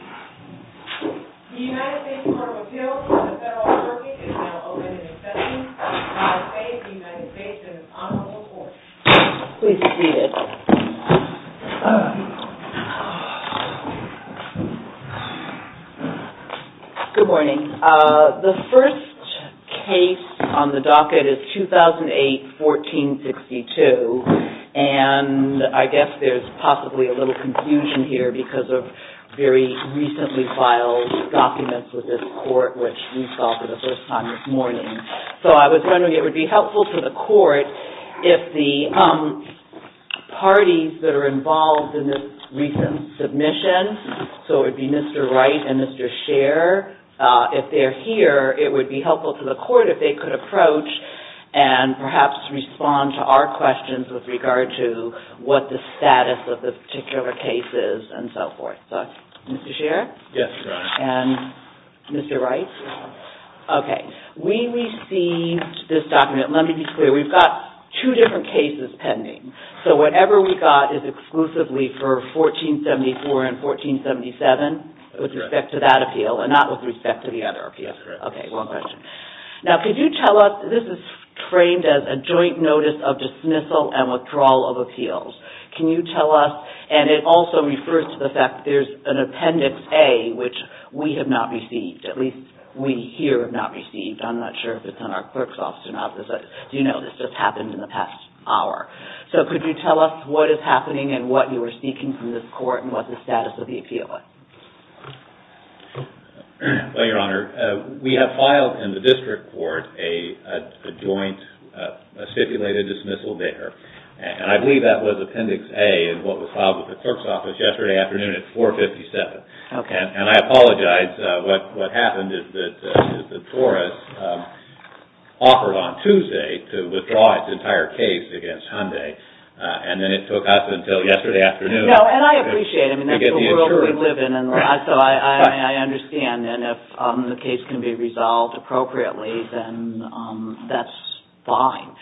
The United States Court of Appeals for the Federal Archive is now open in session. I will now say the United States' Honorable Court. Please be seated. Good morning. The first case on the docket is 2008-1462. And I guess there's possibly a little confusion here because of very recently filed documents with this court, which we saw for the first time this morning. So I was wondering if it would be helpful to the court if the parties that are involved in this recent submission, so it would be Mr. Wright and Mr. Sherr, if they're here, it would be helpful to the court if they could approach and perhaps respond to our questions with regard to what the status of the particular case is and so forth. So, Mr. Sherr? Yes, Your Honor. And Mr. Wright? Yes, Your Honor. Okay. We received this document. Let me be clear. We've got two different cases pending. So whatever we got is exclusively for 1474 and 1477 with respect to that appeal and not with respect to the other appeal. That's correct. Okay, well done. Now, could you tell us, this is framed as a joint notice of dismissal and withdrawal of appeals. Can you tell us, and it also refers to the fact that there's an Appendix A, which we have not received, at least we here have not received. I'm not sure if it's in our clerk's office or not, but as you know, this just happened in the past hour. So could you tell us what is happening and what you are seeking from this court and what the status of the appeal is? Well, Your Honor, we have filed in the district court a joint, a stipulated dismissal there, and I believe that was Appendix A in what was filed with the clerk's office yesterday afternoon at 457. Okay. And I apologize. What happened is that the TORUS offered on Tuesday to withdraw its entire case against Hyundai, and then it took us until yesterday afternoon. No, and I appreciate it. I mean, that's the world we live in, and so I understand. And if the case can be resolved appropriately, then that's fine.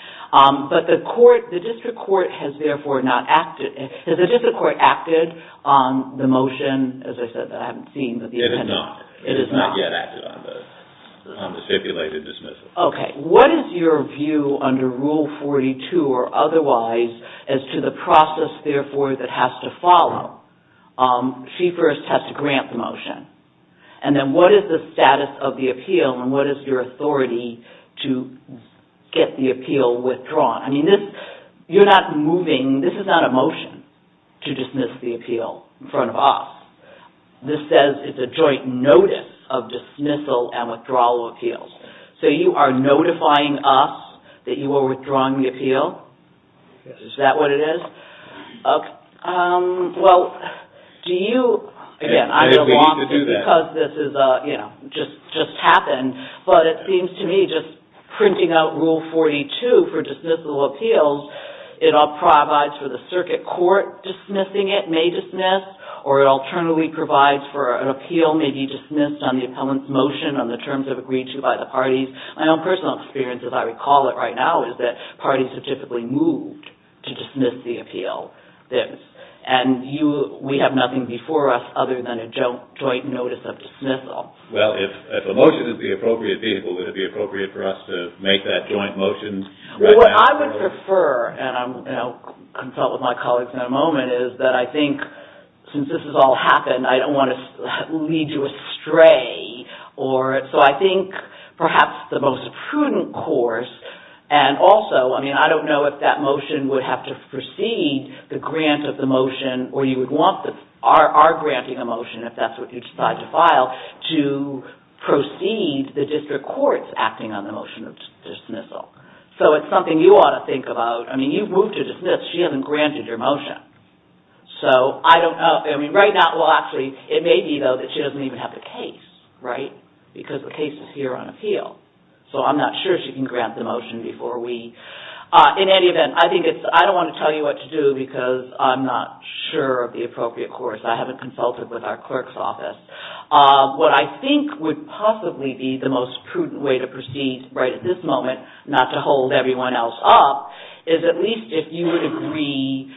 But the court, the district court has therefore not acted. Has the district court acted on the motion, as I said, that I haven't seen? It has not. It has not. It has not yet acted on the stipulated dismissal. Okay. What is your view under Rule 42 or otherwise as to the process, therefore, that has to follow? She first has to grant the motion. And then what is the status of the appeal, and what is your authority to get the appeal withdrawn? I mean, this, you're not moving, this is not a motion to dismiss the appeal in front of us. This says it's a joint notice of dismissal and withdrawal appeals. So you are notifying us that you are withdrawing the appeal? Yes. Is that what it is? Okay. Well, do you – again, I'm going to – We need to do that. Because this is, you know, just happened, but it seems to me just printing out Rule 42 for dismissal appeals, it all provides for the circuit court dismissing it, may dismiss, or it alternately provides for an appeal, may be dismissed on the appellant's motion, on the terms agreed to by the parties. My own personal experience, as I recall it right now, is that parties have typically moved to dismiss the appeal. And we have nothing before us other than a joint notice of dismissal. Well, if a motion is the appropriate vehicle, would it be appropriate for us to make that joint motion right now? Well, what I would prefer, and I'll consult with my colleagues in a moment, is that I think since this has all happened, I don't want to lead you astray. So I think perhaps the most prudent course – and also, I mean, I don't know if that motion would have to proceed, the grant of the motion, or you would want our granting a motion, if that's what you decide to file, to proceed the district courts acting on the motion of dismissal. So it's something you ought to think about. I mean, you've moved to dismiss. She hasn't granted your motion. So I don't know – I mean, right now – it may be, though, that she doesn't even have the case, right? Because the case is here on appeal. So I'm not sure she can grant the motion before we – in any event, I think it's – I don't want to tell you what to do because I'm not sure of the appropriate course. I haven't consulted with our clerk's office. What I think would possibly be the most prudent way to proceed right at this moment, not to hold everyone else up, is at least if you would agree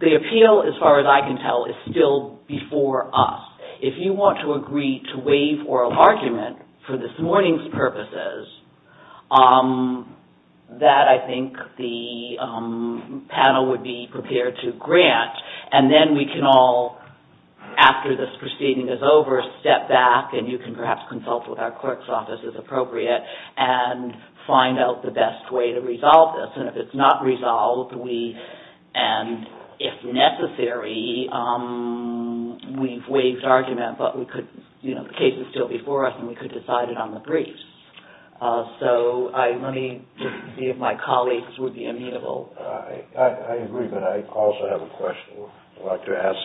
the appeal, as far as I can tell, is still before us. If you want to agree to waive oral argument for this morning's purposes, that, I think, the panel would be prepared to grant. And then we can all, after this proceeding is over, step back, and you can perhaps consult with our clerk's office, if appropriate, and find out the best way to resolve this. And if it's not resolved, we – and if necessary, we've waived argument, but we could – you know, the case is still before us, and we could decide it on the briefs. So let me just see if my colleagues would be amenable. I agree, but I also have a question I'd like to ask.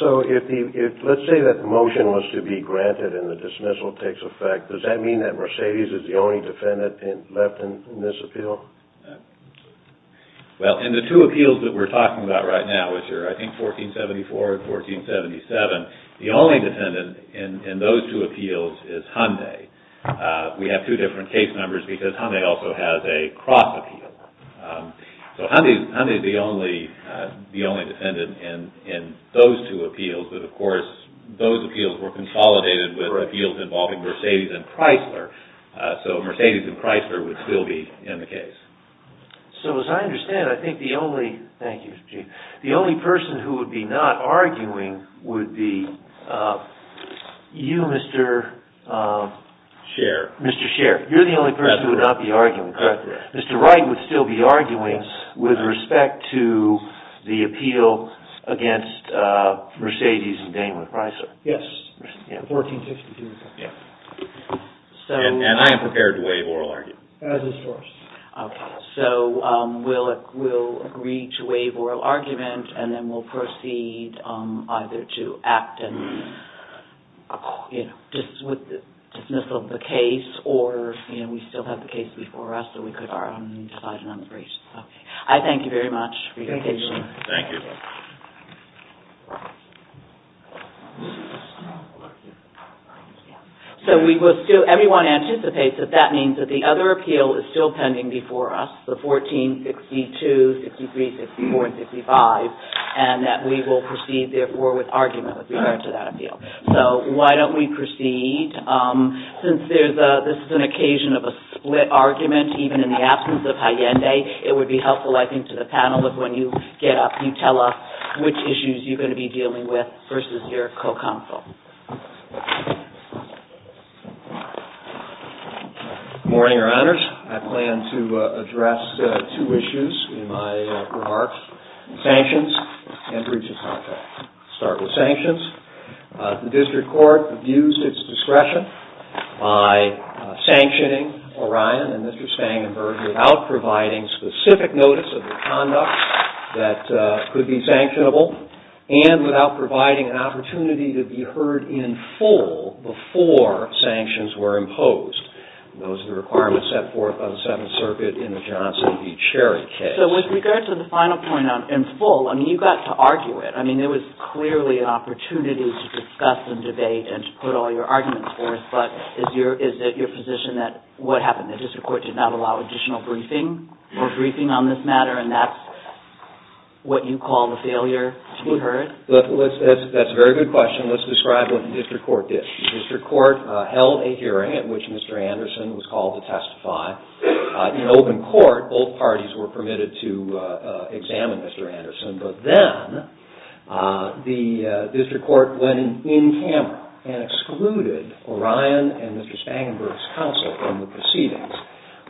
So if the – let's say that the motion was to be granted and the dismissal takes effect, does that mean that Mercedes is the only defendant left in this appeal? Well, in the two appeals that we're talking about right now, which are, I think, 1474 and 1477, the only defendant in those two appeals is Hyundai. We have two different case numbers because Hyundai also has a cross appeal. So Hyundai is the only defendant in those two appeals, but, of course, those appeals were consolidated with appeals involving Mercedes and Chrysler. So Mercedes and Chrysler would still be in the case. So as I understand, I think the only – thank you, Chief – the only person who would be not arguing would be you, Mr. – Scherr. Mr. Scherr. You're the only person who would not be arguing, correct? Mr. Wright would still be arguing with respect to the appeal against Mercedes and Daimler Chrysler. Yes. 1462. And I am prepared to waive oral argument. As is yours. Okay. So we'll agree to waive oral argument and then we'll proceed either to act and dismissal of the case or we still have the case before us so we could decide on the breach. I thank you very much for your attention. Thank you. So we will still – everyone anticipates that that means that the other appeal is still pending before us, the 1462, 63, 64, and 65, and that we will proceed, therefore, with argument with regard to that appeal. So why don't we proceed? Since this is an occasion of a split argument, even in the absence of Allende, it would be helpful, I think, to the panel if when you get up, you tell us which issues you're going to be dealing with versus your co-counsel. Good morning, Your Honors. I plan to address two issues in my remarks, sanctions and breach of contract. I'll start with sanctions. The district court abused its discretion by sanctioning Orion and Mr. Stangenberg without providing specific notice of the conduct that could be sanctionable and without providing an opportunity to be heard in full before sanctions were imposed. Those are the requirements set forth on the Seventh Circuit in the Johnson v. Cherry case. So with regard to the final point on in full, I mean, you got to argue it. I mean, there was clearly an opportunity to discuss and debate and to put all your arguments forth, but is it your position that what happened? Is there an additional briefing or briefing on this matter, and that's what you call the failure to be heard? That's a very good question. Let's describe what the district court did. The district court held a hearing in which Mr. Anderson was called to testify. In open court, both parties were permitted to examine Mr. Anderson, but then the district court went in camera and excluded Orion and Mr. Stangenberg's counsel from the proceedings,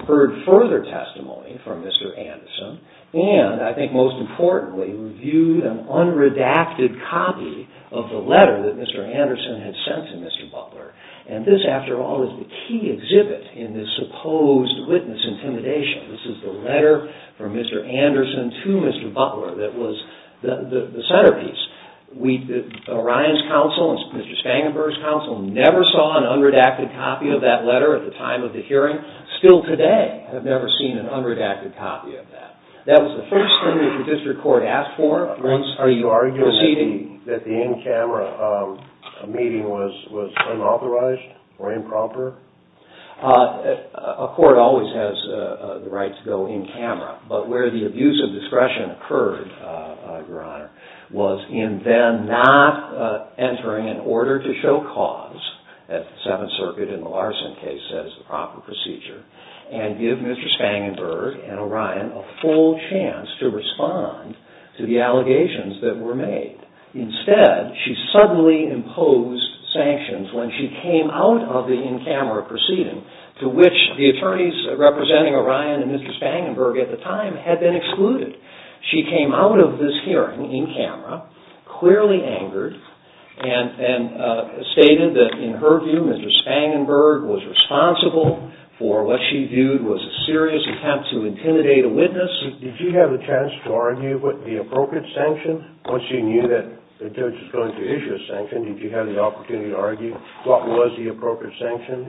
heard further testimony from Mr. Anderson, and I think most importantly reviewed an unredacted copy of the letter that Mr. Anderson had sent to Mr. Butler. And this, after all, is the key exhibit in this supposed witness intimidation. This is the letter from Mr. Anderson to Mr. Butler that was the centerpiece. Orion's counsel and Mr. Stangenberg's counsel never saw an unredacted copy of that letter at the time of the hearing. Still today, I've never seen an unredacted copy of that. That was the first thing that the district court asked for. Are you arguing that the in-camera meeting was unauthorized or improper? A court always has the right to go in camera, but where the abuse of discretion occurred, Your Honor, was in then not entering in order to show cause, as the Seventh Circuit in the Larson case says, the proper procedure, and give Mr. Stangenberg and Orion a full chance to respond to the allegations that were made. Instead, she suddenly imposed sanctions when she came out of the in-camera proceeding, to which the attorneys representing Orion and Mr. Stangenberg at the time had been excluded. She came out of this hearing in camera, clearly angered, and stated that, in her view, Mr. Stangenberg was responsible for what she viewed was a serious attempt to intimidate a witness. Did you have a chance to argue the appropriate sanction? Once you knew that the judge was going to issue a sanction, did you have the opportunity to argue what was the appropriate sanction?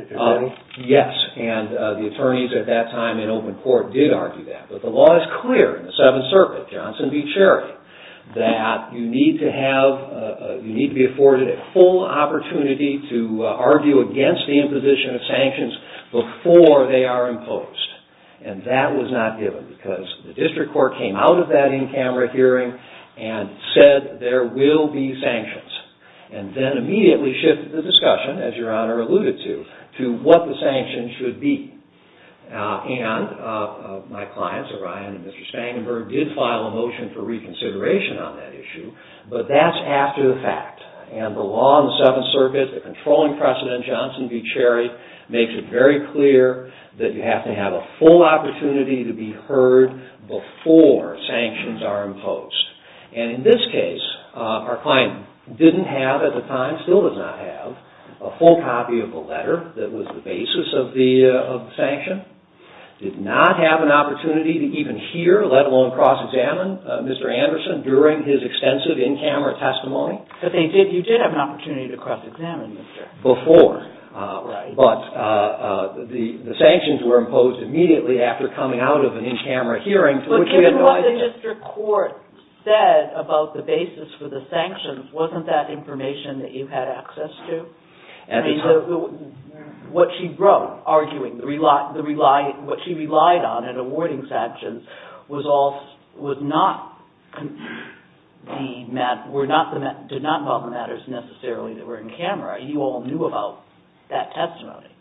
Yes, and the attorneys at that time in open court did argue that. But the law is clear in the Seventh Circuit, Johnson v. Cherry, that you need to be afforded a full opportunity to argue against the imposition of sanctions before they are imposed. And that was not given, because the district court came out of that in-camera hearing and said there will be sanctions, and then immediately shifted the discussion, as Your Honor alluded to, to what the sanctions should be. And my clients, Orion and Mr. Stangenberg, did file a motion for reconsideration on that issue, but that's after the fact. And the law in the Seventh Circuit, the controlling precedent, Johnson v. Cherry, makes it very clear that you have to have a full opportunity to be heard before sanctions are imposed. And in this case, our client didn't have, at the time, our client still does not have a full copy of the letter that was the basis of the sanction, did not have an opportunity to even hear, let alone cross-examine, Mr. Anderson during his extensive in-camera testimony. But you did have an opportunity to cross-examine, Mr. Anderson. Before. Right. But the sanctions were imposed immediately after coming out of an in-camera hearing. But given what the district court said about the basis for the sanctions, wasn't that information that you had access to? What she wrote, arguing what she relied on in awarding sanctions, did not involve the matters necessarily that were in-camera. You all knew about that testimony.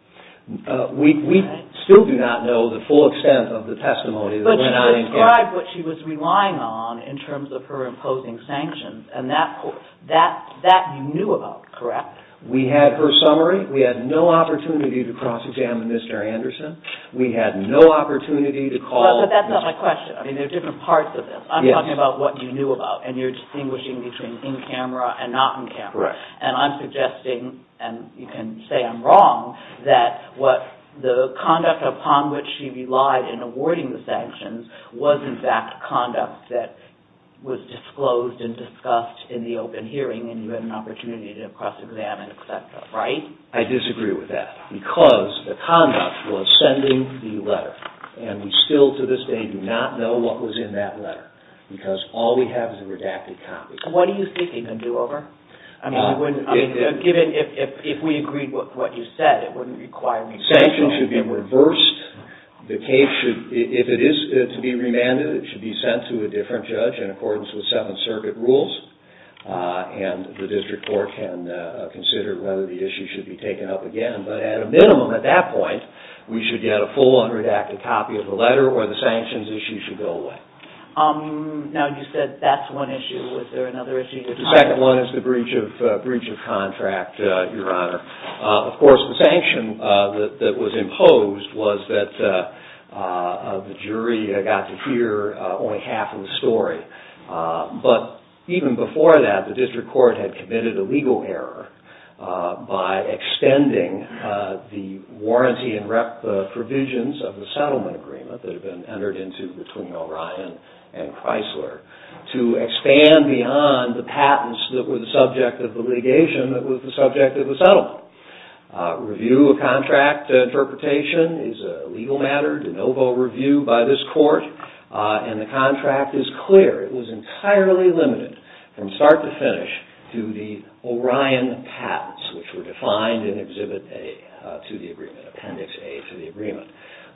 We still do not know the full extent of the testimony that went out in-camera. But she described what she was relying on in terms of her imposing sanctions, and that you knew about, correct? We had her summary. We had no opportunity to cross-examine Mr. Anderson. We had no opportunity to call Mr. Anderson. But that's not my question. I mean, there are different parts of this. I'm talking about what you knew about, and you're distinguishing between in-camera and not in-camera. And I'm suggesting, and you can say I'm wrong, that the conduct upon which she relied in awarding the sanctions was, in fact, conduct that was disclosed and discussed in the open hearing, and you had an opportunity to cross-examine, et cetera, right? I disagree with that, because the conduct was sending the letter. And we still, to this day, do not know what was in that letter, because all we have is a redacted copy. What do you think you can do over it? I mean, if we agreed with what you said, it wouldn't require any sanctions. Sanctions should be reversed. The case should, if it is to be remanded, it should be sent to a different judge in accordance with Seventh Circuit rules, and the district court can consider whether the issue should be taken up again. But at a minimum, at that point, we should get a full unredacted copy of the letter or the sanctions issue should go away. Now, you said that's one issue. Was there another issue? The second one is the breach of contract, Your Honor. Of course, the sanction that was imposed was that the jury got to hear only half of the story. But even before that, the district court had committed a legal error by extending the warranty and rep provisions of the settlement agreement that had been entered into between O'Ryan and Chrysler to expand beyond the patents that were the subject of the litigation that was the subject of the settlement. Review of contract interpretation is a legal matter. De novo review by this court, and the contract is clear. It was entirely limited from start to finish to the O'Ryan patents, which were defined in Exhibit A to the agreement, Appendix A to the agreement.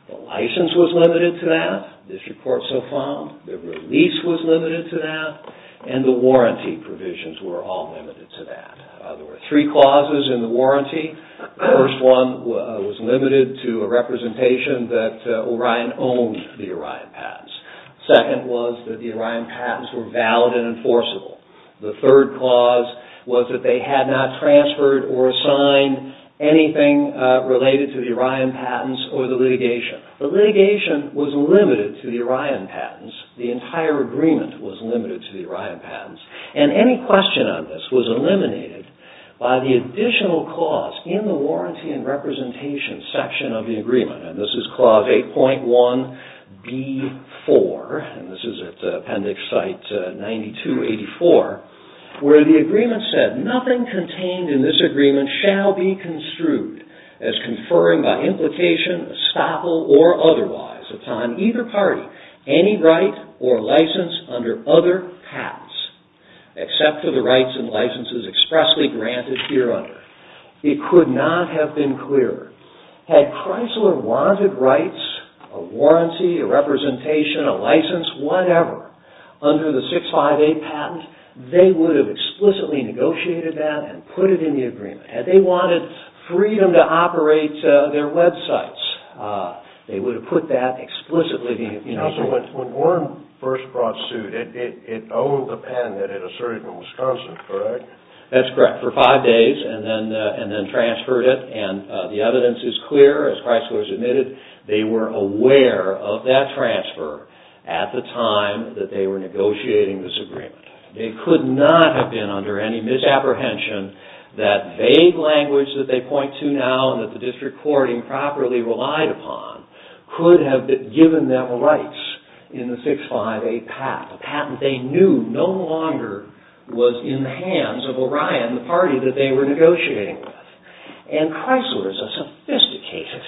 The license was limited to that. The district court so far, the release was limited to that, and the warranty provisions were all limited to that. There were three clauses in the warranty. The first one was limited to a representation that O'Ryan owned the O'Ryan patents. Second was that the O'Ryan patents were valid and enforceable. The third clause was that they had not transferred The litigation was limited to the O'Ryan patents. The entire agreement was limited to the O'Ryan patents, and any question on this was eliminated by the additional clause in the warranty and representation section of the agreement, and this is Clause 8.1B4, and this is at Appendix Site 92-84, where the agreement said, that nothing contained in this agreement shall be construed as conferring by implication, estoppel, or otherwise upon either party any right or license under other patents, except for the rights and licenses expressly granted hereunder. It could not have been clearer. Had Chrysler wanted rights, a warranty, a representation, a license, whatever, under the 658 patent, they would have explicitly negotiated that and put it in the agreement. Had they wanted freedom to operate their websites, they would have put that explicitly in the agreement. When Warren first brought suit, it owed the patent that it asserted in Wisconsin, correct? That's correct. For five days, and then transferred it, and the evidence is clear. As Chrysler has admitted, they were aware of that transfer at the time that they were negotiating this agreement. They could not have been under any misapprehension that vague language that they point to now and that the district court improperly relied upon could have given them rights in the 658 patent. A patent they knew no longer was in the hands of Orion, the party that they were negotiating with. Chrysler is a sophisticated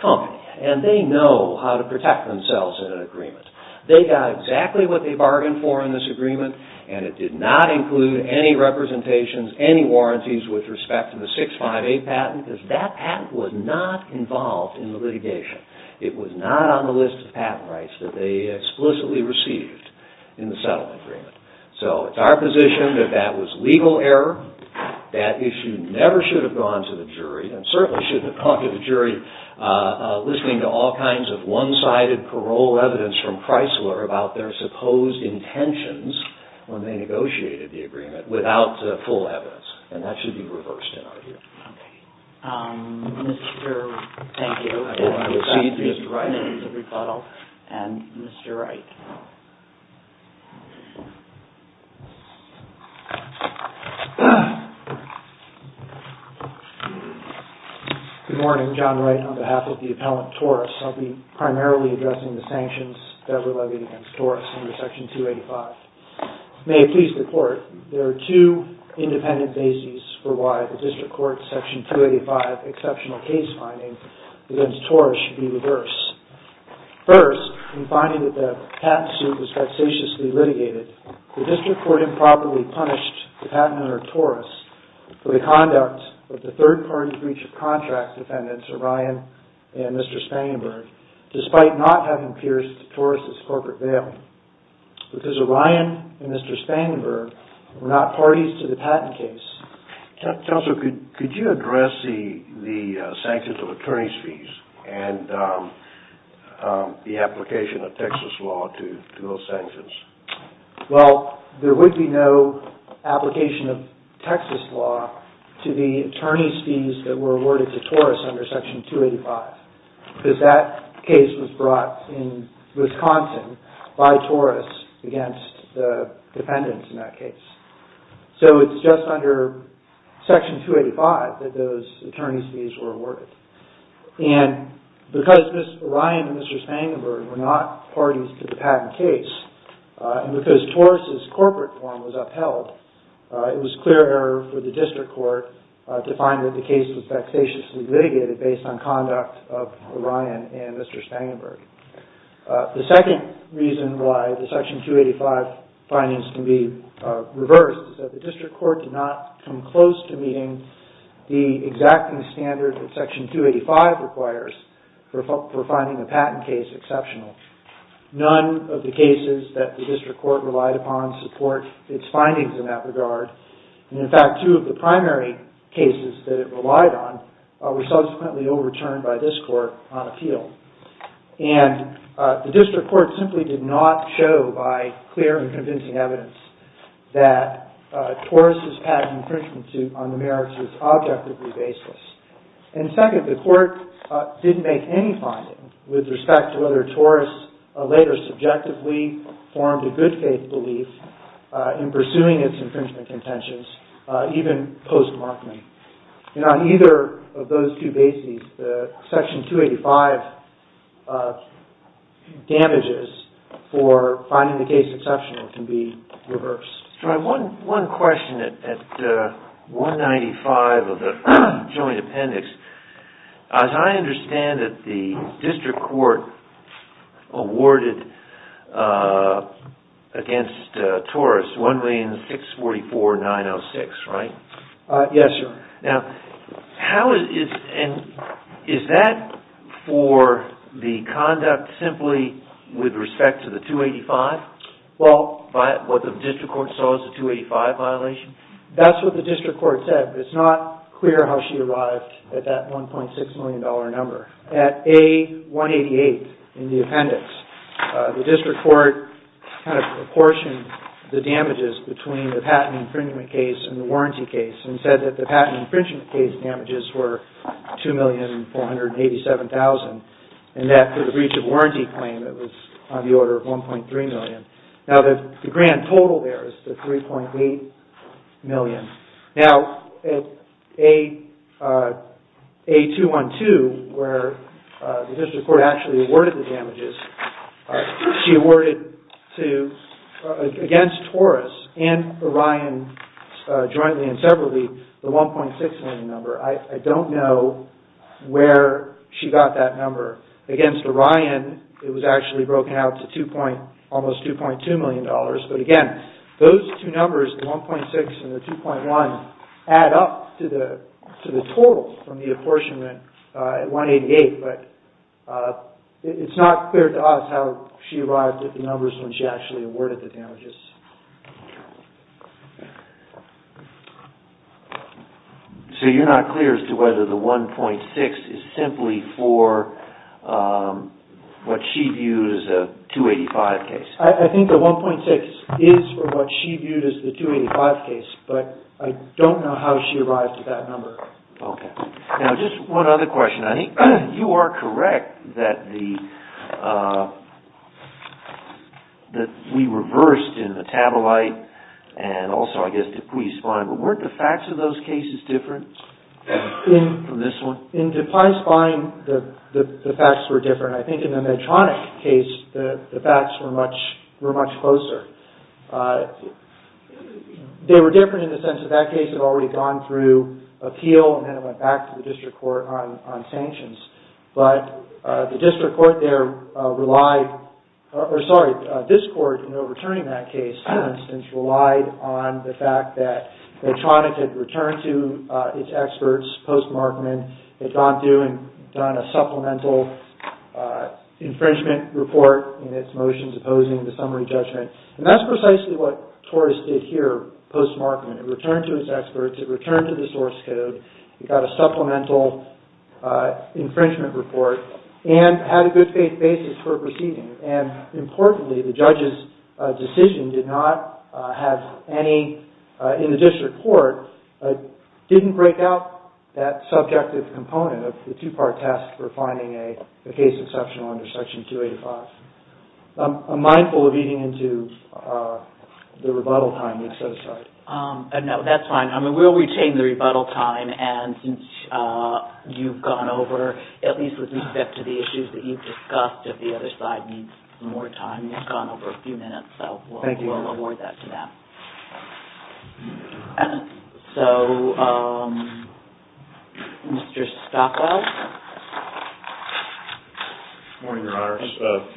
company, and they know how to protect themselves in an agreement. They got exactly what they bargained for in this agreement, and it did not include any representations, any warranties with respect to the 658 patent because that patent was not involved in the litigation. It was not on the list of patent rights that they explicitly received in the settlement agreement. So it's our position that that was legal error. That issue never should have gone to the jury, and certainly shouldn't have gone to the jury listening to all kinds of one-sided parole evidence from Chrysler about their supposed intentions when they negotiated the agreement without full evidence, and that should be reversed in our view. Okay. Thank you. I will now recede to Mr. Wright for his rebuttal, and Mr. Wright. Good morning. John Wright on behalf of the Appellant Taurus. I'll be primarily addressing the sanctions that were levied against Taurus under Section 285. May it please the Court, there are two independent bases for why the District Court's Section 285 exceptional case finding against Taurus should be reversed. First, in finding that the patent suit was vexatiously litigated, the District Court improperly punished the patent owner Taurus for the conduct of the third-party breach of contract defendants, Orion and Mr. Spangenberg, despite not having pierced Taurus' corporate bail, because Orion and Mr. Spangenberg were not parties to the patent case. Counselor, could you address the sanctions of attorney's fees and the application of Texas law to those sanctions? Well, there would be no application of Texas law to the attorney's fees that were awarded to Taurus under Section 285, because that case was brought in Wisconsin by Taurus against the defendants in that case. So it's just under Section 285 that those attorney's fees were awarded. And because Orion and Mr. Spangenberg were not parties to the patent case, and because Taurus' corporate form was upheld, it was clear error for the District Court to find that the case was vexatiously litigated based on conduct of Orion and Mr. Spangenberg. The second reason why the Section 285 findings can be reversed is that the District Court did not come close to meeting the exacting standard that Section 285 requires for finding a patent case exceptional. None of the cases that the District Court relied upon support its findings in that regard. And in fact, two of the primary cases that it relied on were subsequently overturned by this Court on appeal. And the District Court simply did not show, by clear and convincing evidence, that Taurus' patent infringement suit on the merits was objectively baseless. And second, the Court didn't make any findings with respect to whether Taurus later subjectively formed a good faith belief in pursuing its infringement contentions, even post-Markman. And on either of those two bases, the Section 285 damages for finding the case exceptional can be reversed. One question at 195 of the Joint Appendix. As I understand it, the District Court awarded against Taurus $1,644,906, right? Yes, sir. Now, is that for the conduct simply with respect to the 285? Well... What the District Court saw as a 285 violation? That's what the District Court said, but it's not clear how she arrived at that $1.6 million number. At A188 in the appendix, the District Court kind of proportioned the damages between the patent infringement case and the warranty case and said that the patent infringement case damages were $2,487,000, and that for the breach of warranty claim it was on the order of $1.3 million. Now, the grand total there is the $3.8 million. Now, at A212, where the District Court actually awarded the damages, she awarded against Taurus and Orion jointly and separately the $1.6 million number. I don't know where she got that number. Against Orion, it was actually broken out to almost $2.2 million, but again, those two numbers, the $1.6 million and the $2.1 million, add up to the total from the apportionment at A188, but it's not clear to us how she arrived at the numbers when she actually awarded the damages. So you're not clear as to whether the $1.6 million is simply for what she views as a 285 case? I think the $1.6 is for what she viewed as the 285 case, but I don't know how she arrived at that number. Okay. Now, just one other question. I think you are correct that we reversed in Metabolite and also, I guess, Dupuis Fine, but weren't the facts of those cases different from this one? In Dupuis Fine, the facts were different. I think in the Medtronic case, the facts were much closer. They were different in the sense that that case had already gone through appeal and then it went back to the district court on sanctions, but the district court there relied, or sorry, this court, in overturning that case, for instance, relied on the fact that Medtronic had returned to its experts post-Markman, had gone through and done a supplemental infringement report in its motions opposing the summary judgment, and that's precisely what Torres did here post-Markman. It returned to its experts. It returned to the source code. It got a supplemental infringement report and had a good basis for proceeding, and importantly, the judge's decision did not have any, in the district court, didn't break out that subjective component of the two-part test for finding a case exceptional under Section 285. I'm mindful of eating into the rebuttal time. I'm so sorry. No, that's fine. We'll retain the rebuttal time and since you've gone over, at least with respect to the issues that you've discussed, if the other side needs more time, you've gone over a few minutes, so we'll award that to them. So, Mr. Stockwell? Good morning, Your Honor.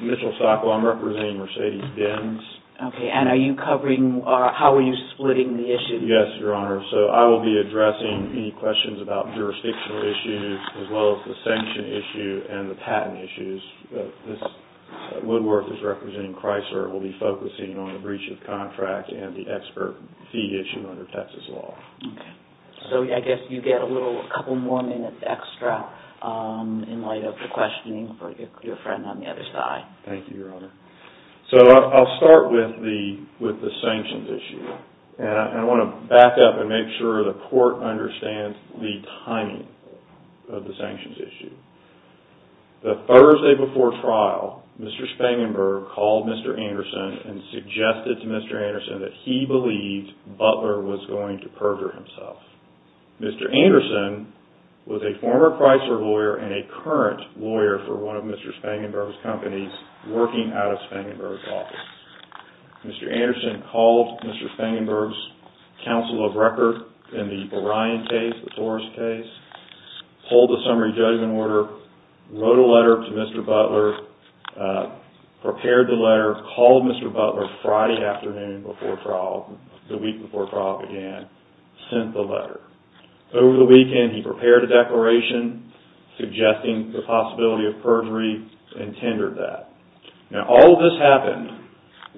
Mitchell Stockwell. I'm representing Mercedes Benz. Okay, and are you covering, how are you splitting the issues? Yes, Your Honor. So, I will be addressing any questions about jurisdictional issues as well as the sanction issue and the patent issues. This, Woodworth is representing Chrysler. We'll be focusing on the breach of contract and the expert fee issue under Texas law. Okay. So, I guess you get a little, a couple more minutes extra in light of the questioning for your friend on the other side. Thank you, Your Honor. So, I'll start with the sanctions issue and I want to back up and make sure the court understands the timing of the sanctions issue. The Thursday before trial, Mr. Spangenberg called Mr. Anderson and suggested to Mr. Anderson that he believed Butler was going to perjure himself. Mr. Anderson was a former Chrysler lawyer and a current lawyer for one of Mr. Spangenberg's companies working out of Spangenberg's office. Mr. Anderson called Mr. Spangenberg's counsel of record in the Orion case, the Taurus case, pulled a summary judgment order, wrote a letter to Mr. Butler, prepared the letter, called Mr. Butler Friday afternoon before trial, the week before trial began, sent the letter. Over the weekend, he prepared a declaration suggesting the possibility of perjury and tendered that. Now, all of this happened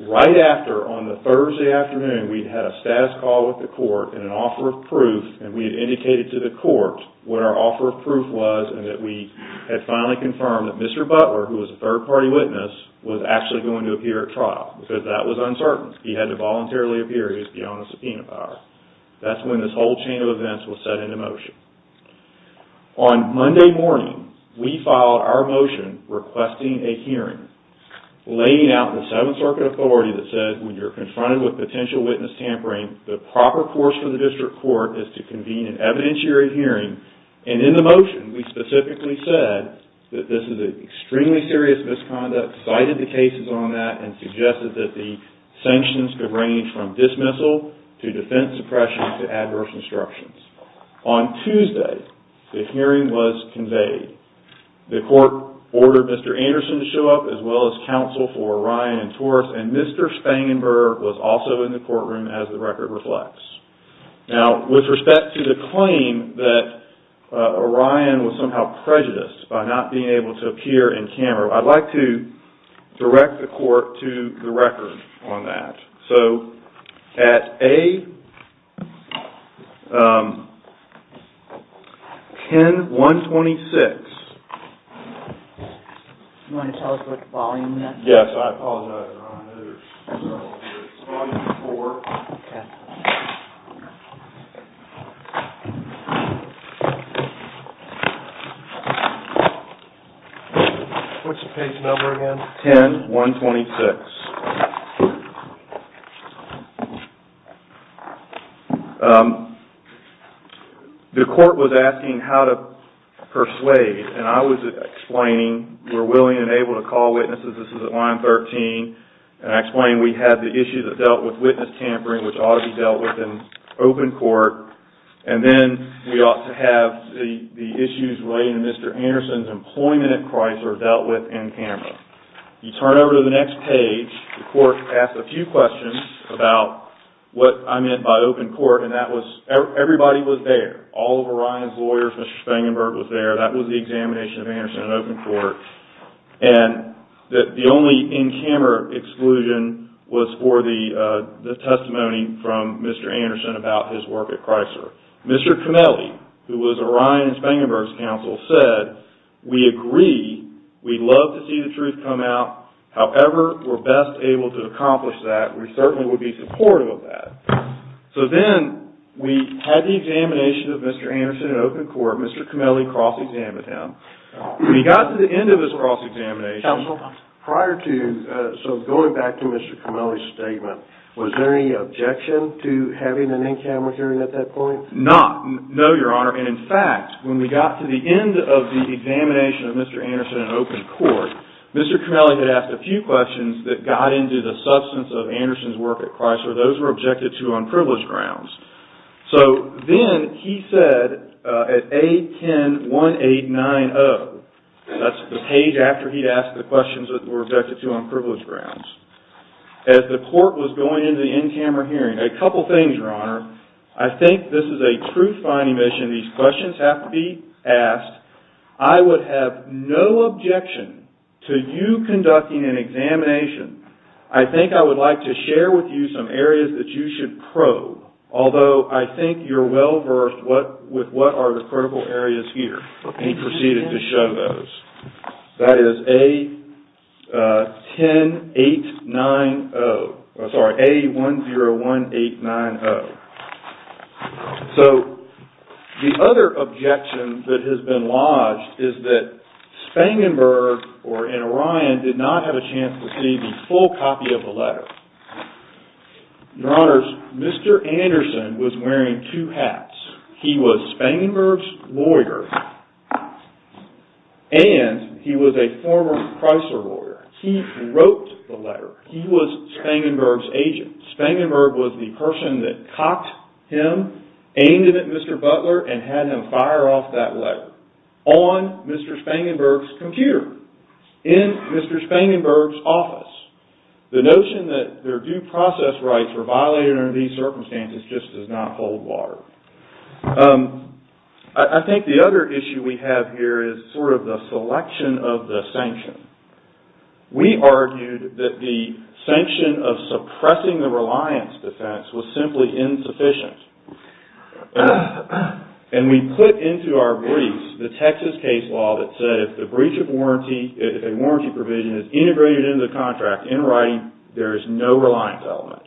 right after on the Thursday afternoon we'd had a status call with the court and an offer of proof and we had indicated to the court what our offer of proof was and that we had finally confirmed that Mr. Butler, who was a third-party witness, was actually going to appear at trial because that was uncertain. He had to voluntarily appear if he owned a subpoena power. That's when this whole chain of events was set into motion. On Monday morning, we filed our motion requesting a hearing laying out the Seventh Circuit authority that said, when you're confronted with potential witness tampering, the proper course for the district court is to convene an evidentiary hearing and in the motion, we specifically said that this is an extremely serious misconduct, cited the cases on that, and suggested that the sanctions could range from dismissal to defense suppression to adverse instructions. On Tuesday, the hearing was conveyed. The court ordered Mr. Anderson to show up as well as counsel for Ryan and Torres and Mr. Spangenberg was also in the courtroom as the record reflects. Now, with respect to the claim that Ryan was somehow prejudiced by not being able to appear in camera, I'd like to direct the court to the record on that. So, at A... 10-126... Do you want to tell us what the volume is? Yes, I apologize, Ron. It's volume four. Okay. What's the page number again? 10-126. The court was asking how to persuade and I was explaining we're willing and able to call witnesses, this is at line 13, and I explained we had the issue that dealt with witness tampering, which ought to be dealt with in open court, and then we ought to have the issues relating to Mr. Anderson's employment at Chrysler dealt with in camera. You turn over to the next page, the court asked a few questions about what I meant by open court and that was everybody was there, all of Ryan's lawyers, Mr. Spangenberg was there, that was the examination of Anderson in open court, and the only in-camera exclusion was for the testimony from Mr. Anderson about his work at Chrysler. Mr. Camelli, who was Ryan and Spangenberg's counsel, said we agree, we'd love to see the truth come out, however we're best able to accomplish that, we certainly would be supportive of that. So then we had the examination of Mr. Anderson in open court, Mr. Camelli cross-examined him. We got to the end of his cross-examination. Counsel, prior to, so going back to Mr. Camelli's statement, was there any objection to having an in-camera hearing at that point? Not, no, Your Honor, and in fact, when we got to the end of the examination of Mr. Anderson in open court, Mr. Camelli had asked a few questions that got into the substance of Anderson's work at Chrysler, those were objected to on privilege grounds. So then he said, at A10-1890, that's the page after he'd asked the questions that were objected to on privilege grounds, as the court was going into the in-camera hearing, a couple things, Your Honor. I think this is a truth-finding mission. These questions have to be asked. I would have no objection to you conducting an examination. I think I would like to share with you some areas that you should probe, although I think you're well-versed with what are the critical areas here. He proceeded to show those. That is A10-890, sorry, A10-1890. So, the other objection that has been lodged is that Spangenberg, or in Orion, did not have a chance to see the full copy of the letter. Your Honors, Mr. Anderson was wearing two hats. He was Spangenberg's lawyer, and he was a former Chrysler lawyer. He wrote the letter. He was Spangenberg's agent. Spangenberg was the person that caught him, aimed him at Mr. Butler, and had him fire off that letter on Mr. Spangenberg's computer, in Mr. Spangenberg's office. The notion that their due process rights were violated under these circumstances just does not hold water. I think the other issue we have here is sort of the selection of the sanction. We argued that the sanction of suppressing the reliance defense was simply insufficient. And we put into our briefs the Texas case law that said if a warranty provision is integrated into the contract, in writing, there is no reliance element.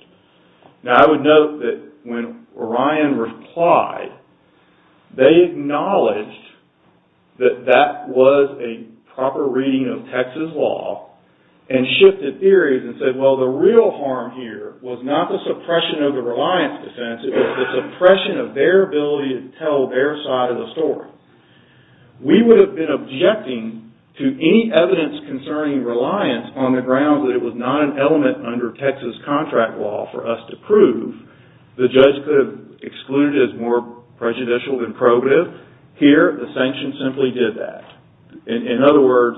Now, I would note that when Orion replied, they acknowledged that that was a proper reading of Texas law, and shifted theories and said, well, the real harm here was not the suppression of the reliance defense, it was the suppression of their ability to tell their side of the story. We would have been objecting to any evidence concerning reliance on the grounds that it was not an element under Texas contract law for us to prove. The judge could have excluded it as more prejudicial than probative. Here, the sanction simply did that. In other words,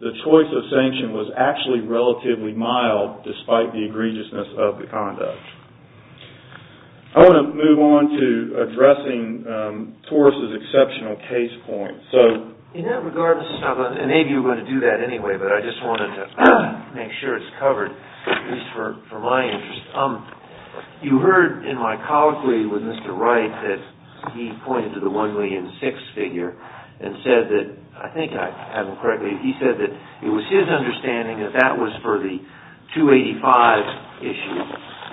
the choice of sanction was actually relatively mild despite the egregiousness of the conduct. I want to move on to addressing Taurus's exceptional case point. In that regard, Mr. Staubl, and maybe you were going to do that anyway, but I just wanted to make sure it's covered, at least for my interest. You heard in my colloquy with Mr. Wright that he pointed to the 1,000,006 figure and said that, I think I have it correctly, he said that it was his understanding that that was for the 285 issue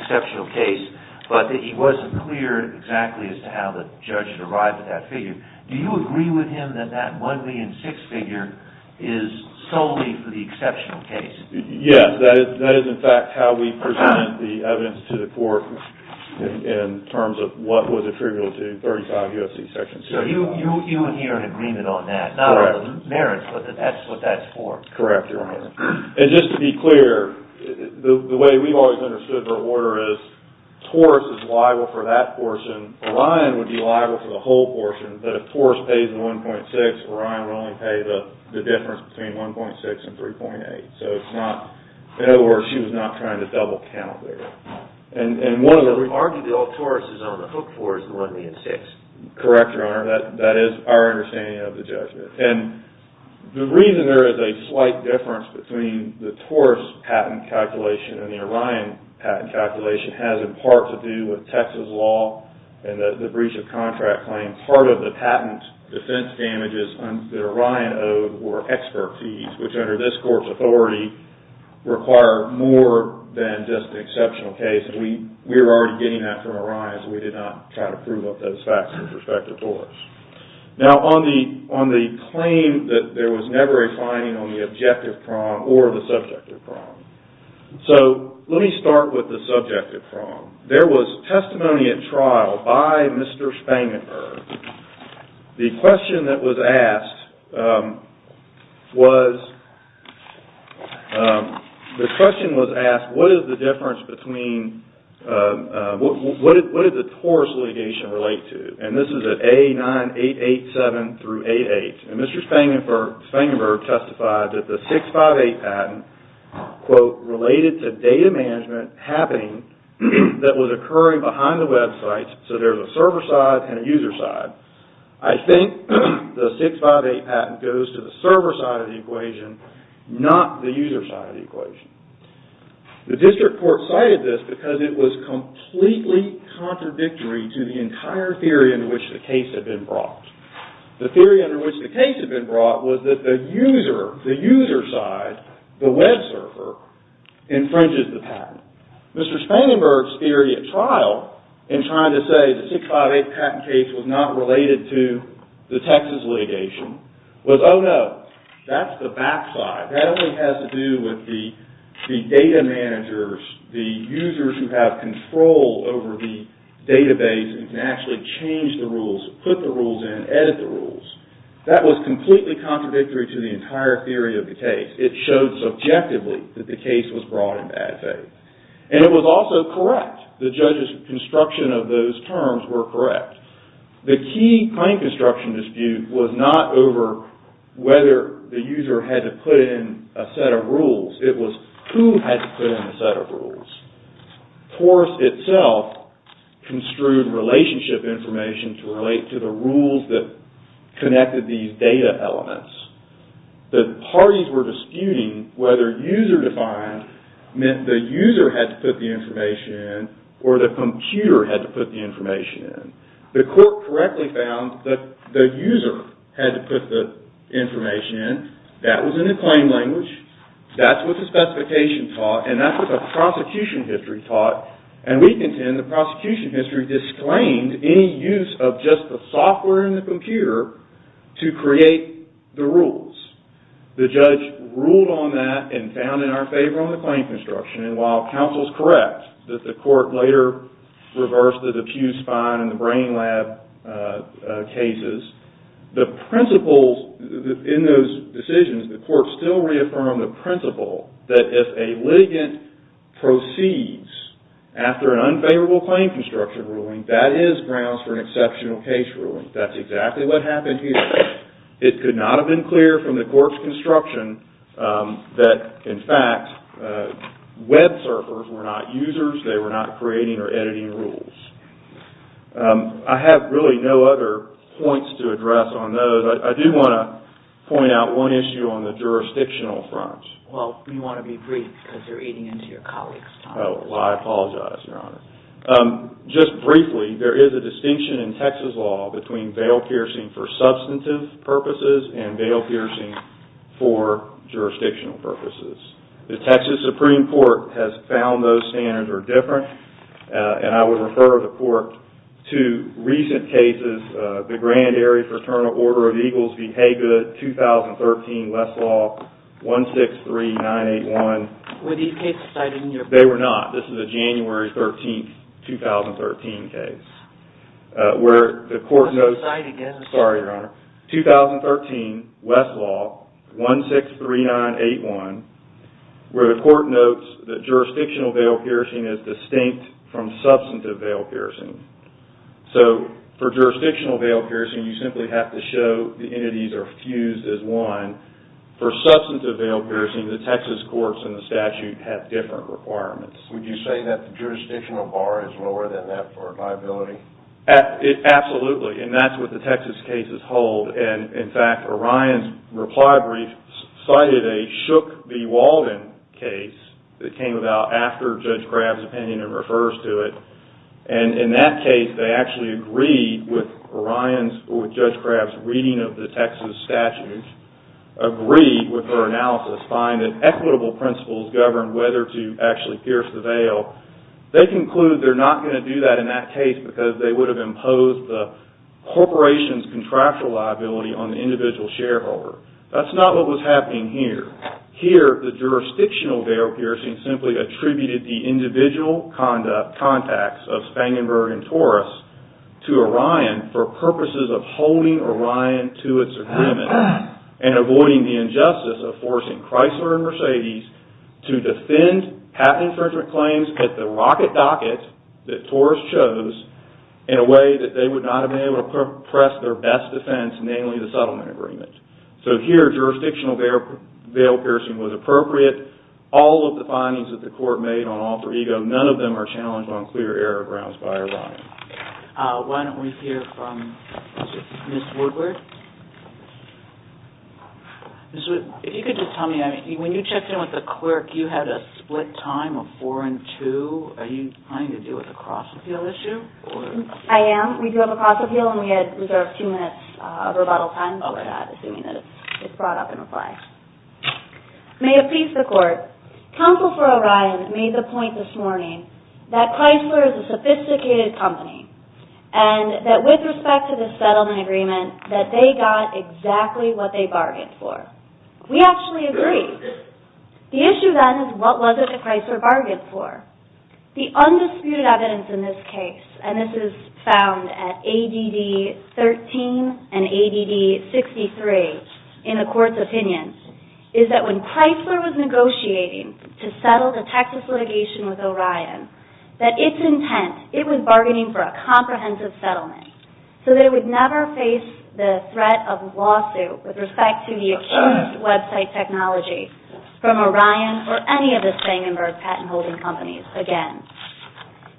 exceptional case, but that he wasn't clear exactly as to how the judge arrived at that figure. Do you agree with him that that 1,000,006 figure is solely for the exceptional case? Yes, that is in fact how we presented the evidence to the court in terms of what was attributable to 35 U.S.C. Section 2. So you adhere in agreement on that? Correct. Not on the merits, but that's what that's for? Correct, Your Honor. And just to be clear, the way we've always understood her order is Taurus is liable for that portion, Orion would be liable for the whole portion, but if Taurus pays the 1.6, Orion would only pay the difference between 1.6 and 3.8. So it's not, in other words, she was not trying to double count there. And one of the... But arguably all Taurus is on the hook for is the 1,000,006. Correct, Your Honor. That is our understanding of the judgment. And the reason there is a slight difference between the Taurus patent calculation and the Orion patent calculation has in part to do with Texas law and the breach of contract claim. Part of the patent defense damages that Orion owed were expert fees, which under this court's authority require more than just an exceptional case. We were already getting that from Orion, so we did not try to prove up those facts with respect to Taurus. Now on the claim that there was never a finding on the objective prong or the subjective prong. So let me start with the subjective prong. There was testimony at trial by Mr. Spangenberg. The question that was asked was... The question was asked, what is the difference between... What did the Taurus litigation relate to? And this is at A9887 through A8. And Mr. Spangenberg testified that the 658 patent related to data management happening that was occurring behind the website, so there is a server side and a user side. I think the 658 patent goes to the server side of the equation, not the user side of the equation. The district court cited this because it was completely contradictory to the entire theory in which the case had been brought. The theory under which the case had been brought was that the user side, the web server, infringes the patent. Mr. Spangenberg's theory at trial in trying to say the 658 patent case was not related to the Texas litigation was, oh no, that's the back side. That only has to do with the data managers, the users who have control over the database and can actually change the rules, put the rules in, edit the rules. That was completely contradictory to the entire theory of the case. It showed subjectively that the case was brought in bad faith. And it was also correct. The judge's construction of those terms were correct. The key claim construction dispute was not over whether the user had to put in a set of rules. It was who had to put in a set of rules. Forrest itself construed relationship information to relate to the rules that connected these data elements. The parties were disputing whether user defined meant the user had to put the information in or the computer had to put the information in. The court correctly found that the user had to put the information in. That was in the claim language. That's what the specification taught. And that's what the prosecution history taught. And we contend the prosecution history disclaimed any use of just the software and the computer to create the rules. The judge ruled on that and found in our favor on the claim construction. And while counsel is correct that the court later reversed the diffuse fine in the brain lab cases, the principles in those decisions, the court still reaffirmed the principle that if a litigant proceeds after an unfavorable claim construction ruling, that is grounds for an exceptional case ruling. That's exactly what happened here. It could not have been clear from the court's construction that, in fact, web surfers were not users. They were not creating or editing rules. I have really no other points to address on those. But I do want to point out one issue on the jurisdictional front. Well, you want to be brief because you're eating into your colleagues' time. Well, I apologize, Your Honor. Just briefly, there is a distinction in Texas law between bail piercing for substantive purposes and bail piercing for jurisdictional purposes. The Texas Supreme Court has found those standards are different. And I would refer the court to recent cases, the Grand Area Fraternal Order of Eagles v. Haygood, 2013, Westlaw, 163981. Were these cases cited in your... They were not. This is a January 13, 2013 case. Where the court notes... I'll say it again. Sorry, Your Honor. 2013, Westlaw, 163981, where the court notes that jurisdictional bail piercing is distinct from substantive bail piercing. So for jurisdictional bail piercing, you simply have to show the entities are fused as one. For substantive bail piercing, the Texas courts and the statute have different requirements. Would you say that the jurisdictional bar is lower than that for liability? Absolutely. And that's what the Texas cases hold. And, in fact, Orion's reply brief cited a Shook v. Walden case that came about after Judge Graff's opinion and refers to it. And, in that case, they actually agreed with Orion's or Judge Graff's reading of the Texas statute, agreed with her analysis, find that equitable principles govern whether to actually pierce the bail. They conclude they're not going to do that in that case because they would have imposed the corporation's contractual liability on the individual shareholder. That's not what was happening here. Here, the jurisdictional bail piercing simply attributed the individual contacts of Spangenberg and Torres to Orion for purposes of holding Orion to its agreement and avoiding the injustice of forcing Chrysler and Mercedes to defend patent infringement claims at the rocket docket that Torres chose in a way that they would not have been able to press their best defense, namely the settlement agreement. So, here, jurisdictional bail piercing was appropriate. All of the findings that the court made on All for Ego, none of them are challenged on clear error grounds by Orion. Why don't we hear from Ms. Woodward? Ms. Woodward, if you could just tell me, when you checked in with the clerk, you had a split time of four and two. Are you trying to deal with a cross-appeal issue? I am. We do have a cross-appeal and we had reserved two minutes of rebuttal time for that, assuming that it's brought up in reply. May it please the court, counsel for Orion made the point this morning that Chrysler is a sophisticated company and that with respect to the settlement agreement that they got exactly what they bargained for. We actually agree. The issue then is what was it that Chrysler bargained for? The undisputed evidence in this case, and this is found at ADD 13 and ADD 63 in the court's opinion, is that when Chrysler was negotiating to settle the Texas litigation with Orion, that its intent, it was bargaining for a comprehensive settlement so that it would never face the threat of lawsuit with respect to the accused website technology from Orion or any of the Stangenberg patent holding companies again.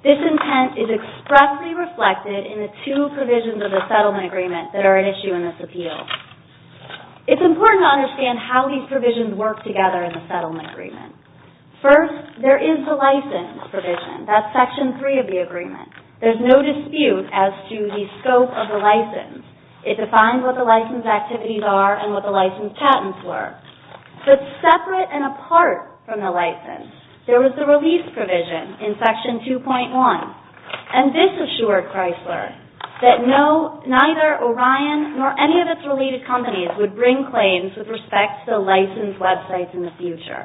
This intent is expressly reflected in the two provisions of the settlement agreement that are at issue in this appeal. It's important to understand how these provisions work together in the settlement agreement. First, there is the license provision. That's Section 3 of the agreement. There's no dispute as to the scope of the license. It defines what the license activities are and what the license patents were. But separate and apart from the license, there was the release provision in Section 2.1. And this assured Chrysler that neither Orion nor any of its related companies would bring claims with respect to licensed websites in the future.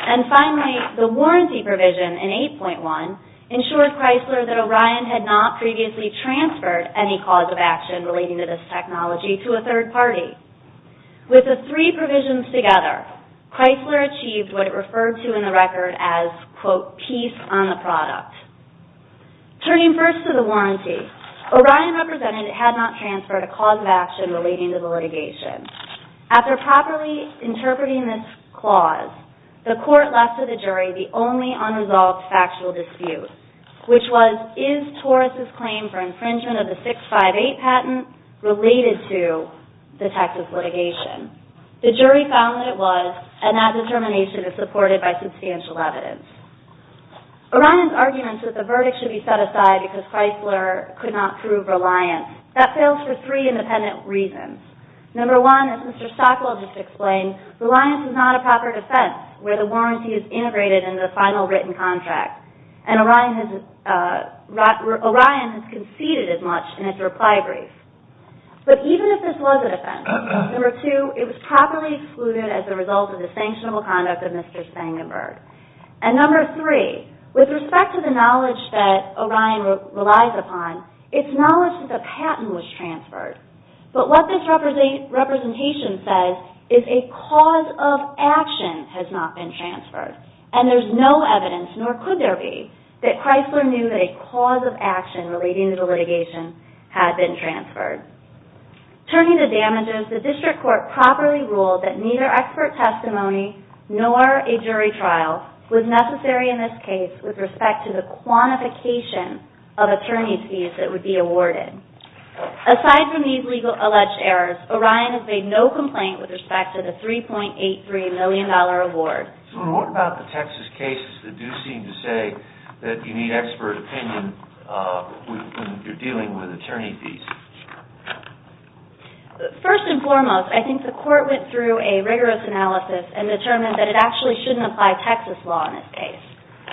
And finally, the warranty provision in 8.1 ensured Chrysler that Orion had not previously transferred any cause of action relating to this technology to a third party. With the three provisions together, Chrysler achieved what it referred to in the record as, quote, peace on the product. Turning first to the warranty, Orion represented it had not transferred a cause of action relating to the litigation. After properly interpreting this clause, the court left to the jury the only unresolved factual dispute, which was, is Taurus's claim for infringement of the 658 patent related to the Texas litigation? The jury found that it was, and that determination is supported by substantial evidence. Orion's arguments that the verdict should be set aside because Chrysler could not prove reliance, that fails for three independent reasons. Number one, as Mr. Stockwell just explained, reliance is not a proper defense where the warranty is integrated in the final written contract. And Orion has conceded as much in its reply brief. But even if this was a defense, number two, it was properly excluded as a result of the sanctionable conduct of Mr. Spangenberg. And number three, with respect to the knowledge that Orion relies upon, it's knowledge that the patent was transferred. But what this representation says is a cause of action has not been transferred. And there's no evidence, nor could there be, that Chrysler knew that a cause of action relating to the litigation had been transferred. Turning to damages, the district court properly ruled that neither expert testimony nor a jury trial was necessary in this case with respect to the quantification of attorney fees that would be awarded. Aside from these legal alleged errors, Orion has made no complaint with respect to the $3.83 million award. So what about the Texas cases that do seem to say that you need expert opinion when you're dealing with attorney fees? First and foremost, I think the court went through a rigorous analysis and determined that it actually shouldn't apply Texas law in this case.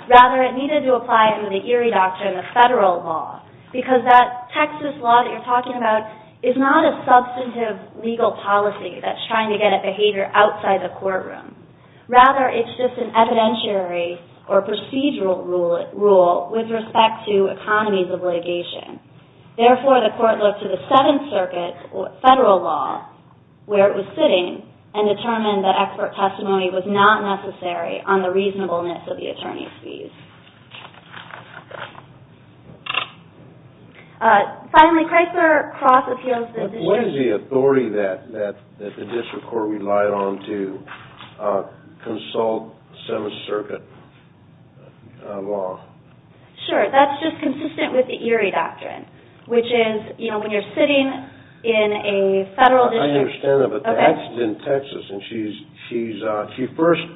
Rather, it needed to apply it under the Erie Doctrine of federal law because that Texas law that you're talking about is not a substantive legal policy that's trying to get at behavior outside the courtroom. Rather, it's just an evidentiary or procedural rule with respect to economies of litigation. Therefore, the court looked to the Seventh Circuit federal law where it was sitting and determined that expert testimony was not necessary on the reasonableness of the attorney's fees. Finally, Krieger cross-appeals the district... What is the authority that the district court relied on to consult Seventh Circuit law? Sure, that's just consistent with the Erie Doctrine, which is when you're sitting in a federal district... I understand that, but that's in Texas. She first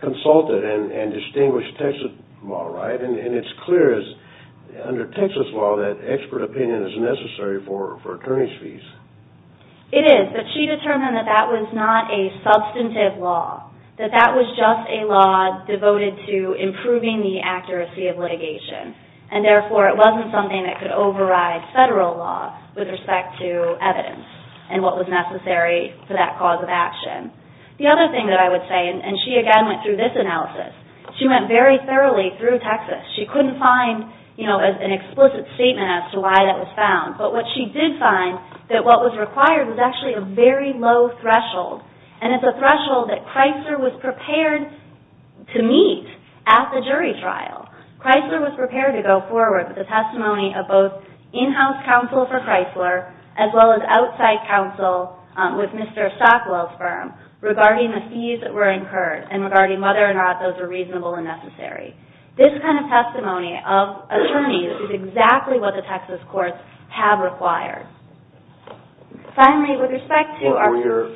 consulted and distinguished Texas law, right? It's clear under Texas law that expert opinion is necessary for attorney's fees. It is, but she determined that that was not a substantive law, that that was just a law devoted to improving the accuracy of litigation. Therefore, it wasn't something that could override federal law with respect to evidence and what was necessary for that cause of action. The other thing that I would say, and she again went through this analysis, she went very thoroughly through Texas. She couldn't find an explicit statement as to why that was found, but what she did find, that what was required was actually a very low threshold, and it's a threshold that Chrysler was prepared to meet at the jury trial. Chrysler was prepared to go forward with a testimony of both in-house counsel for Chrysler as well as outside counsel with Mr. Stockwell's firm regarding the fees that were incurred and regarding whether or not those were reasonable and necessary. This kind of testimony of attorneys is exactly what the Texas courts have required. Finally, with respect to...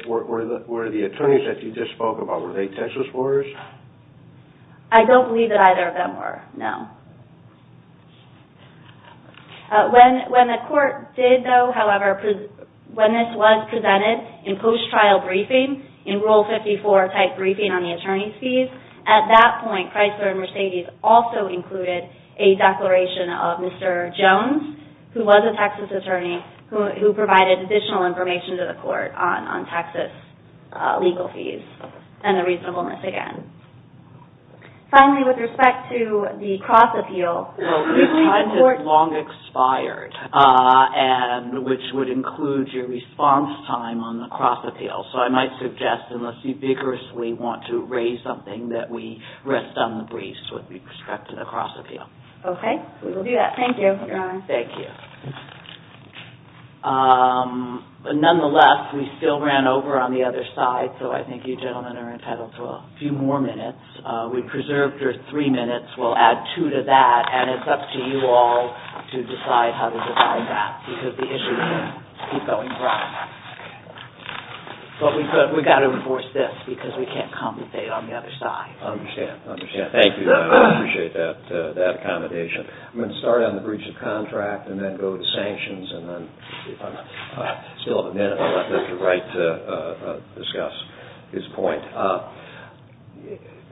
Were the attorneys that you just spoke about, were they Texas lawyers? I don't believe that either of them were, no. When the court did, though, however, when this was presented in post-trial briefing, in Rule 54-type briefing on the attorney's fees, at that point Chrysler and Mercedes also included a declaration of Mr. Jones, who was a Texas attorney, who provided additional information to the court on Texas legal fees and the reasonableness again. Finally, with respect to the cross-appeal... Well, your time has long expired, which would include your response time on the cross-appeal, so I might suggest, unless you vigorously want to raise something, that we rest on the briefs with respect to the cross-appeal. Okay, we will do that. Thank you, Your Honor. Thank you. Nonetheless, we still ran over on the other side, so I think you gentlemen are entitled to a few more minutes. We preserved your three minutes. We'll add two to that, and it's up to you all to decide how to divide that, because the issues keep going broad. But we've got to enforce this, because we can't compensate on the other side. I understand. I understand. Thank you, Your Honor. I appreciate that accommodation. I'm going to start on the breach of contract and then go to sanctions, and then if I still have a minute, I'll let Mr. Wright discuss his point.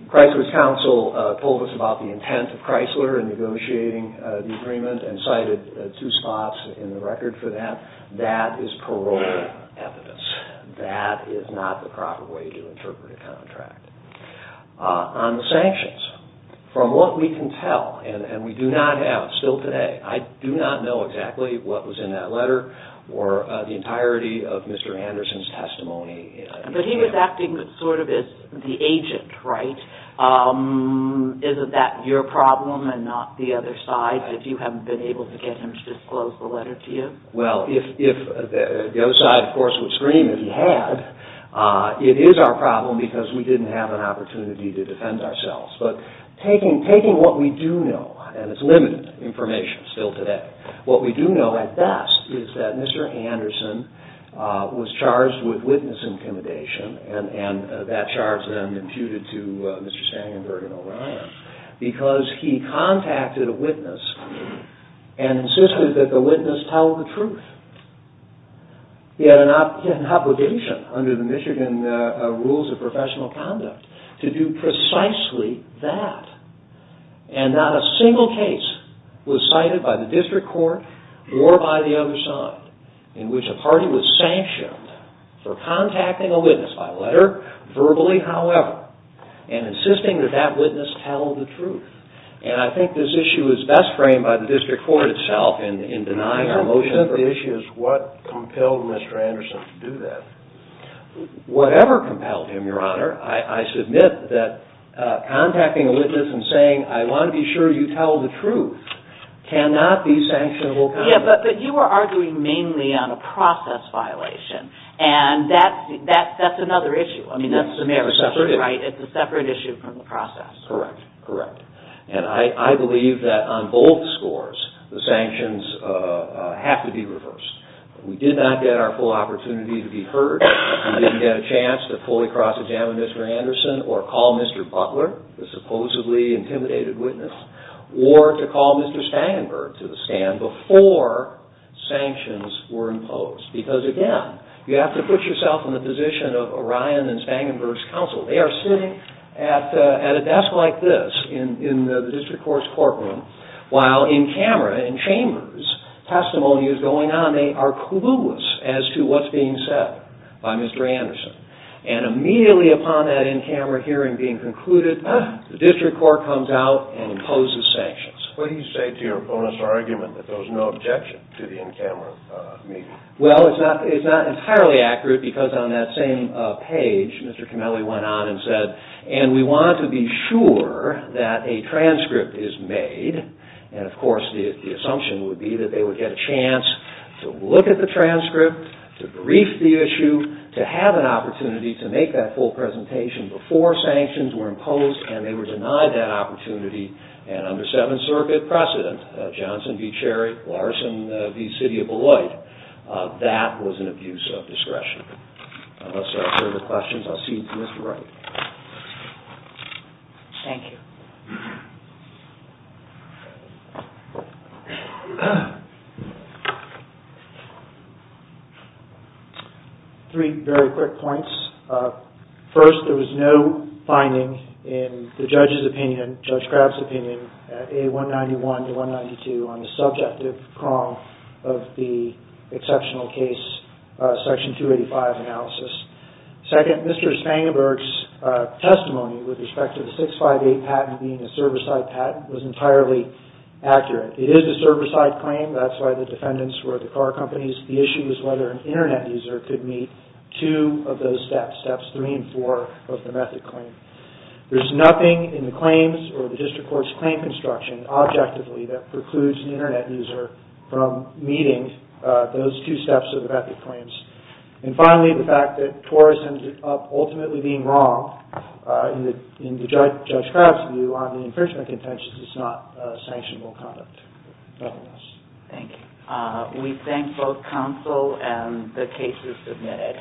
Chrysler's counsel told us about the intent of Chrysler in negotiating the agreement and cited two spots in the record for that. That is paroling evidence. That is not the proper way to interpret a contract. On the sanctions, from what we can tell, and we do not have, still today, I do not know exactly what was in that letter or the entirety of Mr. Anderson's testimony. But he was acting sort of as the agent, right? Isn't that your problem and not the other side's, if you haven't been able to get him to disclose the letter to you? Well, if the other side, of course, would scream if he had, it is our problem because we didn't have an opportunity to defend ourselves. But taking what we do know, and it's limited information still today, what we do know at best is that Mr. Anderson was charged with witness intimidation and that charge then imputed to Mr. Stangenberg and O'Brien because he contacted a witness and insisted that the witness tell the truth. He had an obligation under the Michigan rules of professional conduct to do precisely that. And not a single case was cited by the district court or by the other side in which a party was sanctioned for contacting a witness by letter, verbally, however, and insisting that that witness tell the truth. And I think this issue is best framed by the district court itself in denying our motion. The issue is what compelled Mr. Anderson to do that? Whatever compelled him, Your Honor. I submit that contacting a witness and saying, I want to be sure you tell the truth cannot be sanctionable conduct. Yeah, but you were arguing mainly on a process violation, and that's another issue. I mean, that's a separate issue from the process. Correct. Correct. And I believe that on both scores, the sanctions have to be reversed. We did not get our full opportunity to be heard. We didn't get a chance to fully cross-examine Mr. Anderson or call Mr. Butler, the supposedly intimidated witness, or to call Mr. Spangenberg to the stand before sanctions were imposed. Because, again, you have to put yourself in the position of Orion and Spangenberg's counsel. They are sitting at a desk like this in the district court's courtroom while in camera, in chambers, testimony is going on. And they are clueless as to what's being said by Mr. Anderson. And immediately upon that in-camera hearing being concluded, the district court comes out and imposes sanctions. What do you say to your opponent's argument that there was no objection to the in-camera meeting? Well, it's not entirely accurate because on that same page, Mr. Kimeli went on and said, and we want to be sure that a transcript is made, and, of course, the assumption would be that they would get a chance to look at the transcript, to brief the issue, to have an opportunity to make that full presentation before sanctions were imposed and they were denied that opportunity. And under Seventh Circuit precedent, Johnson v. Cherry, Larson v. City of Beloit, that was an abuse of discretion. Unless there are further questions, I'll cede to Mr. Wright. Thank you. Three very quick points. First, there was no finding in the judge's opinion, Judge Crabb's opinion, at A191 to A192 on the subjective prong of the exceptional case, Section 285 analysis. Second, Mr. Spangenberg's testimony with respect to the 658 patent being a server-side patent was entirely accurate. It is a server-side claim, that's why the defendants were at the car companies. The issue is whether an Internet user could meet two of those steps, steps three and four of the method claim. There's nothing in the claims or the district court's claim construction, objectively, that precludes an Internet user from meeting those two steps of the method claims. And finally, the fact that Torres ended up ultimately being wrong, in Judge Crabb's view, on the infringement contentions, is not a sanctionable conduct. Thank you. We thank both counsel and the cases submitted.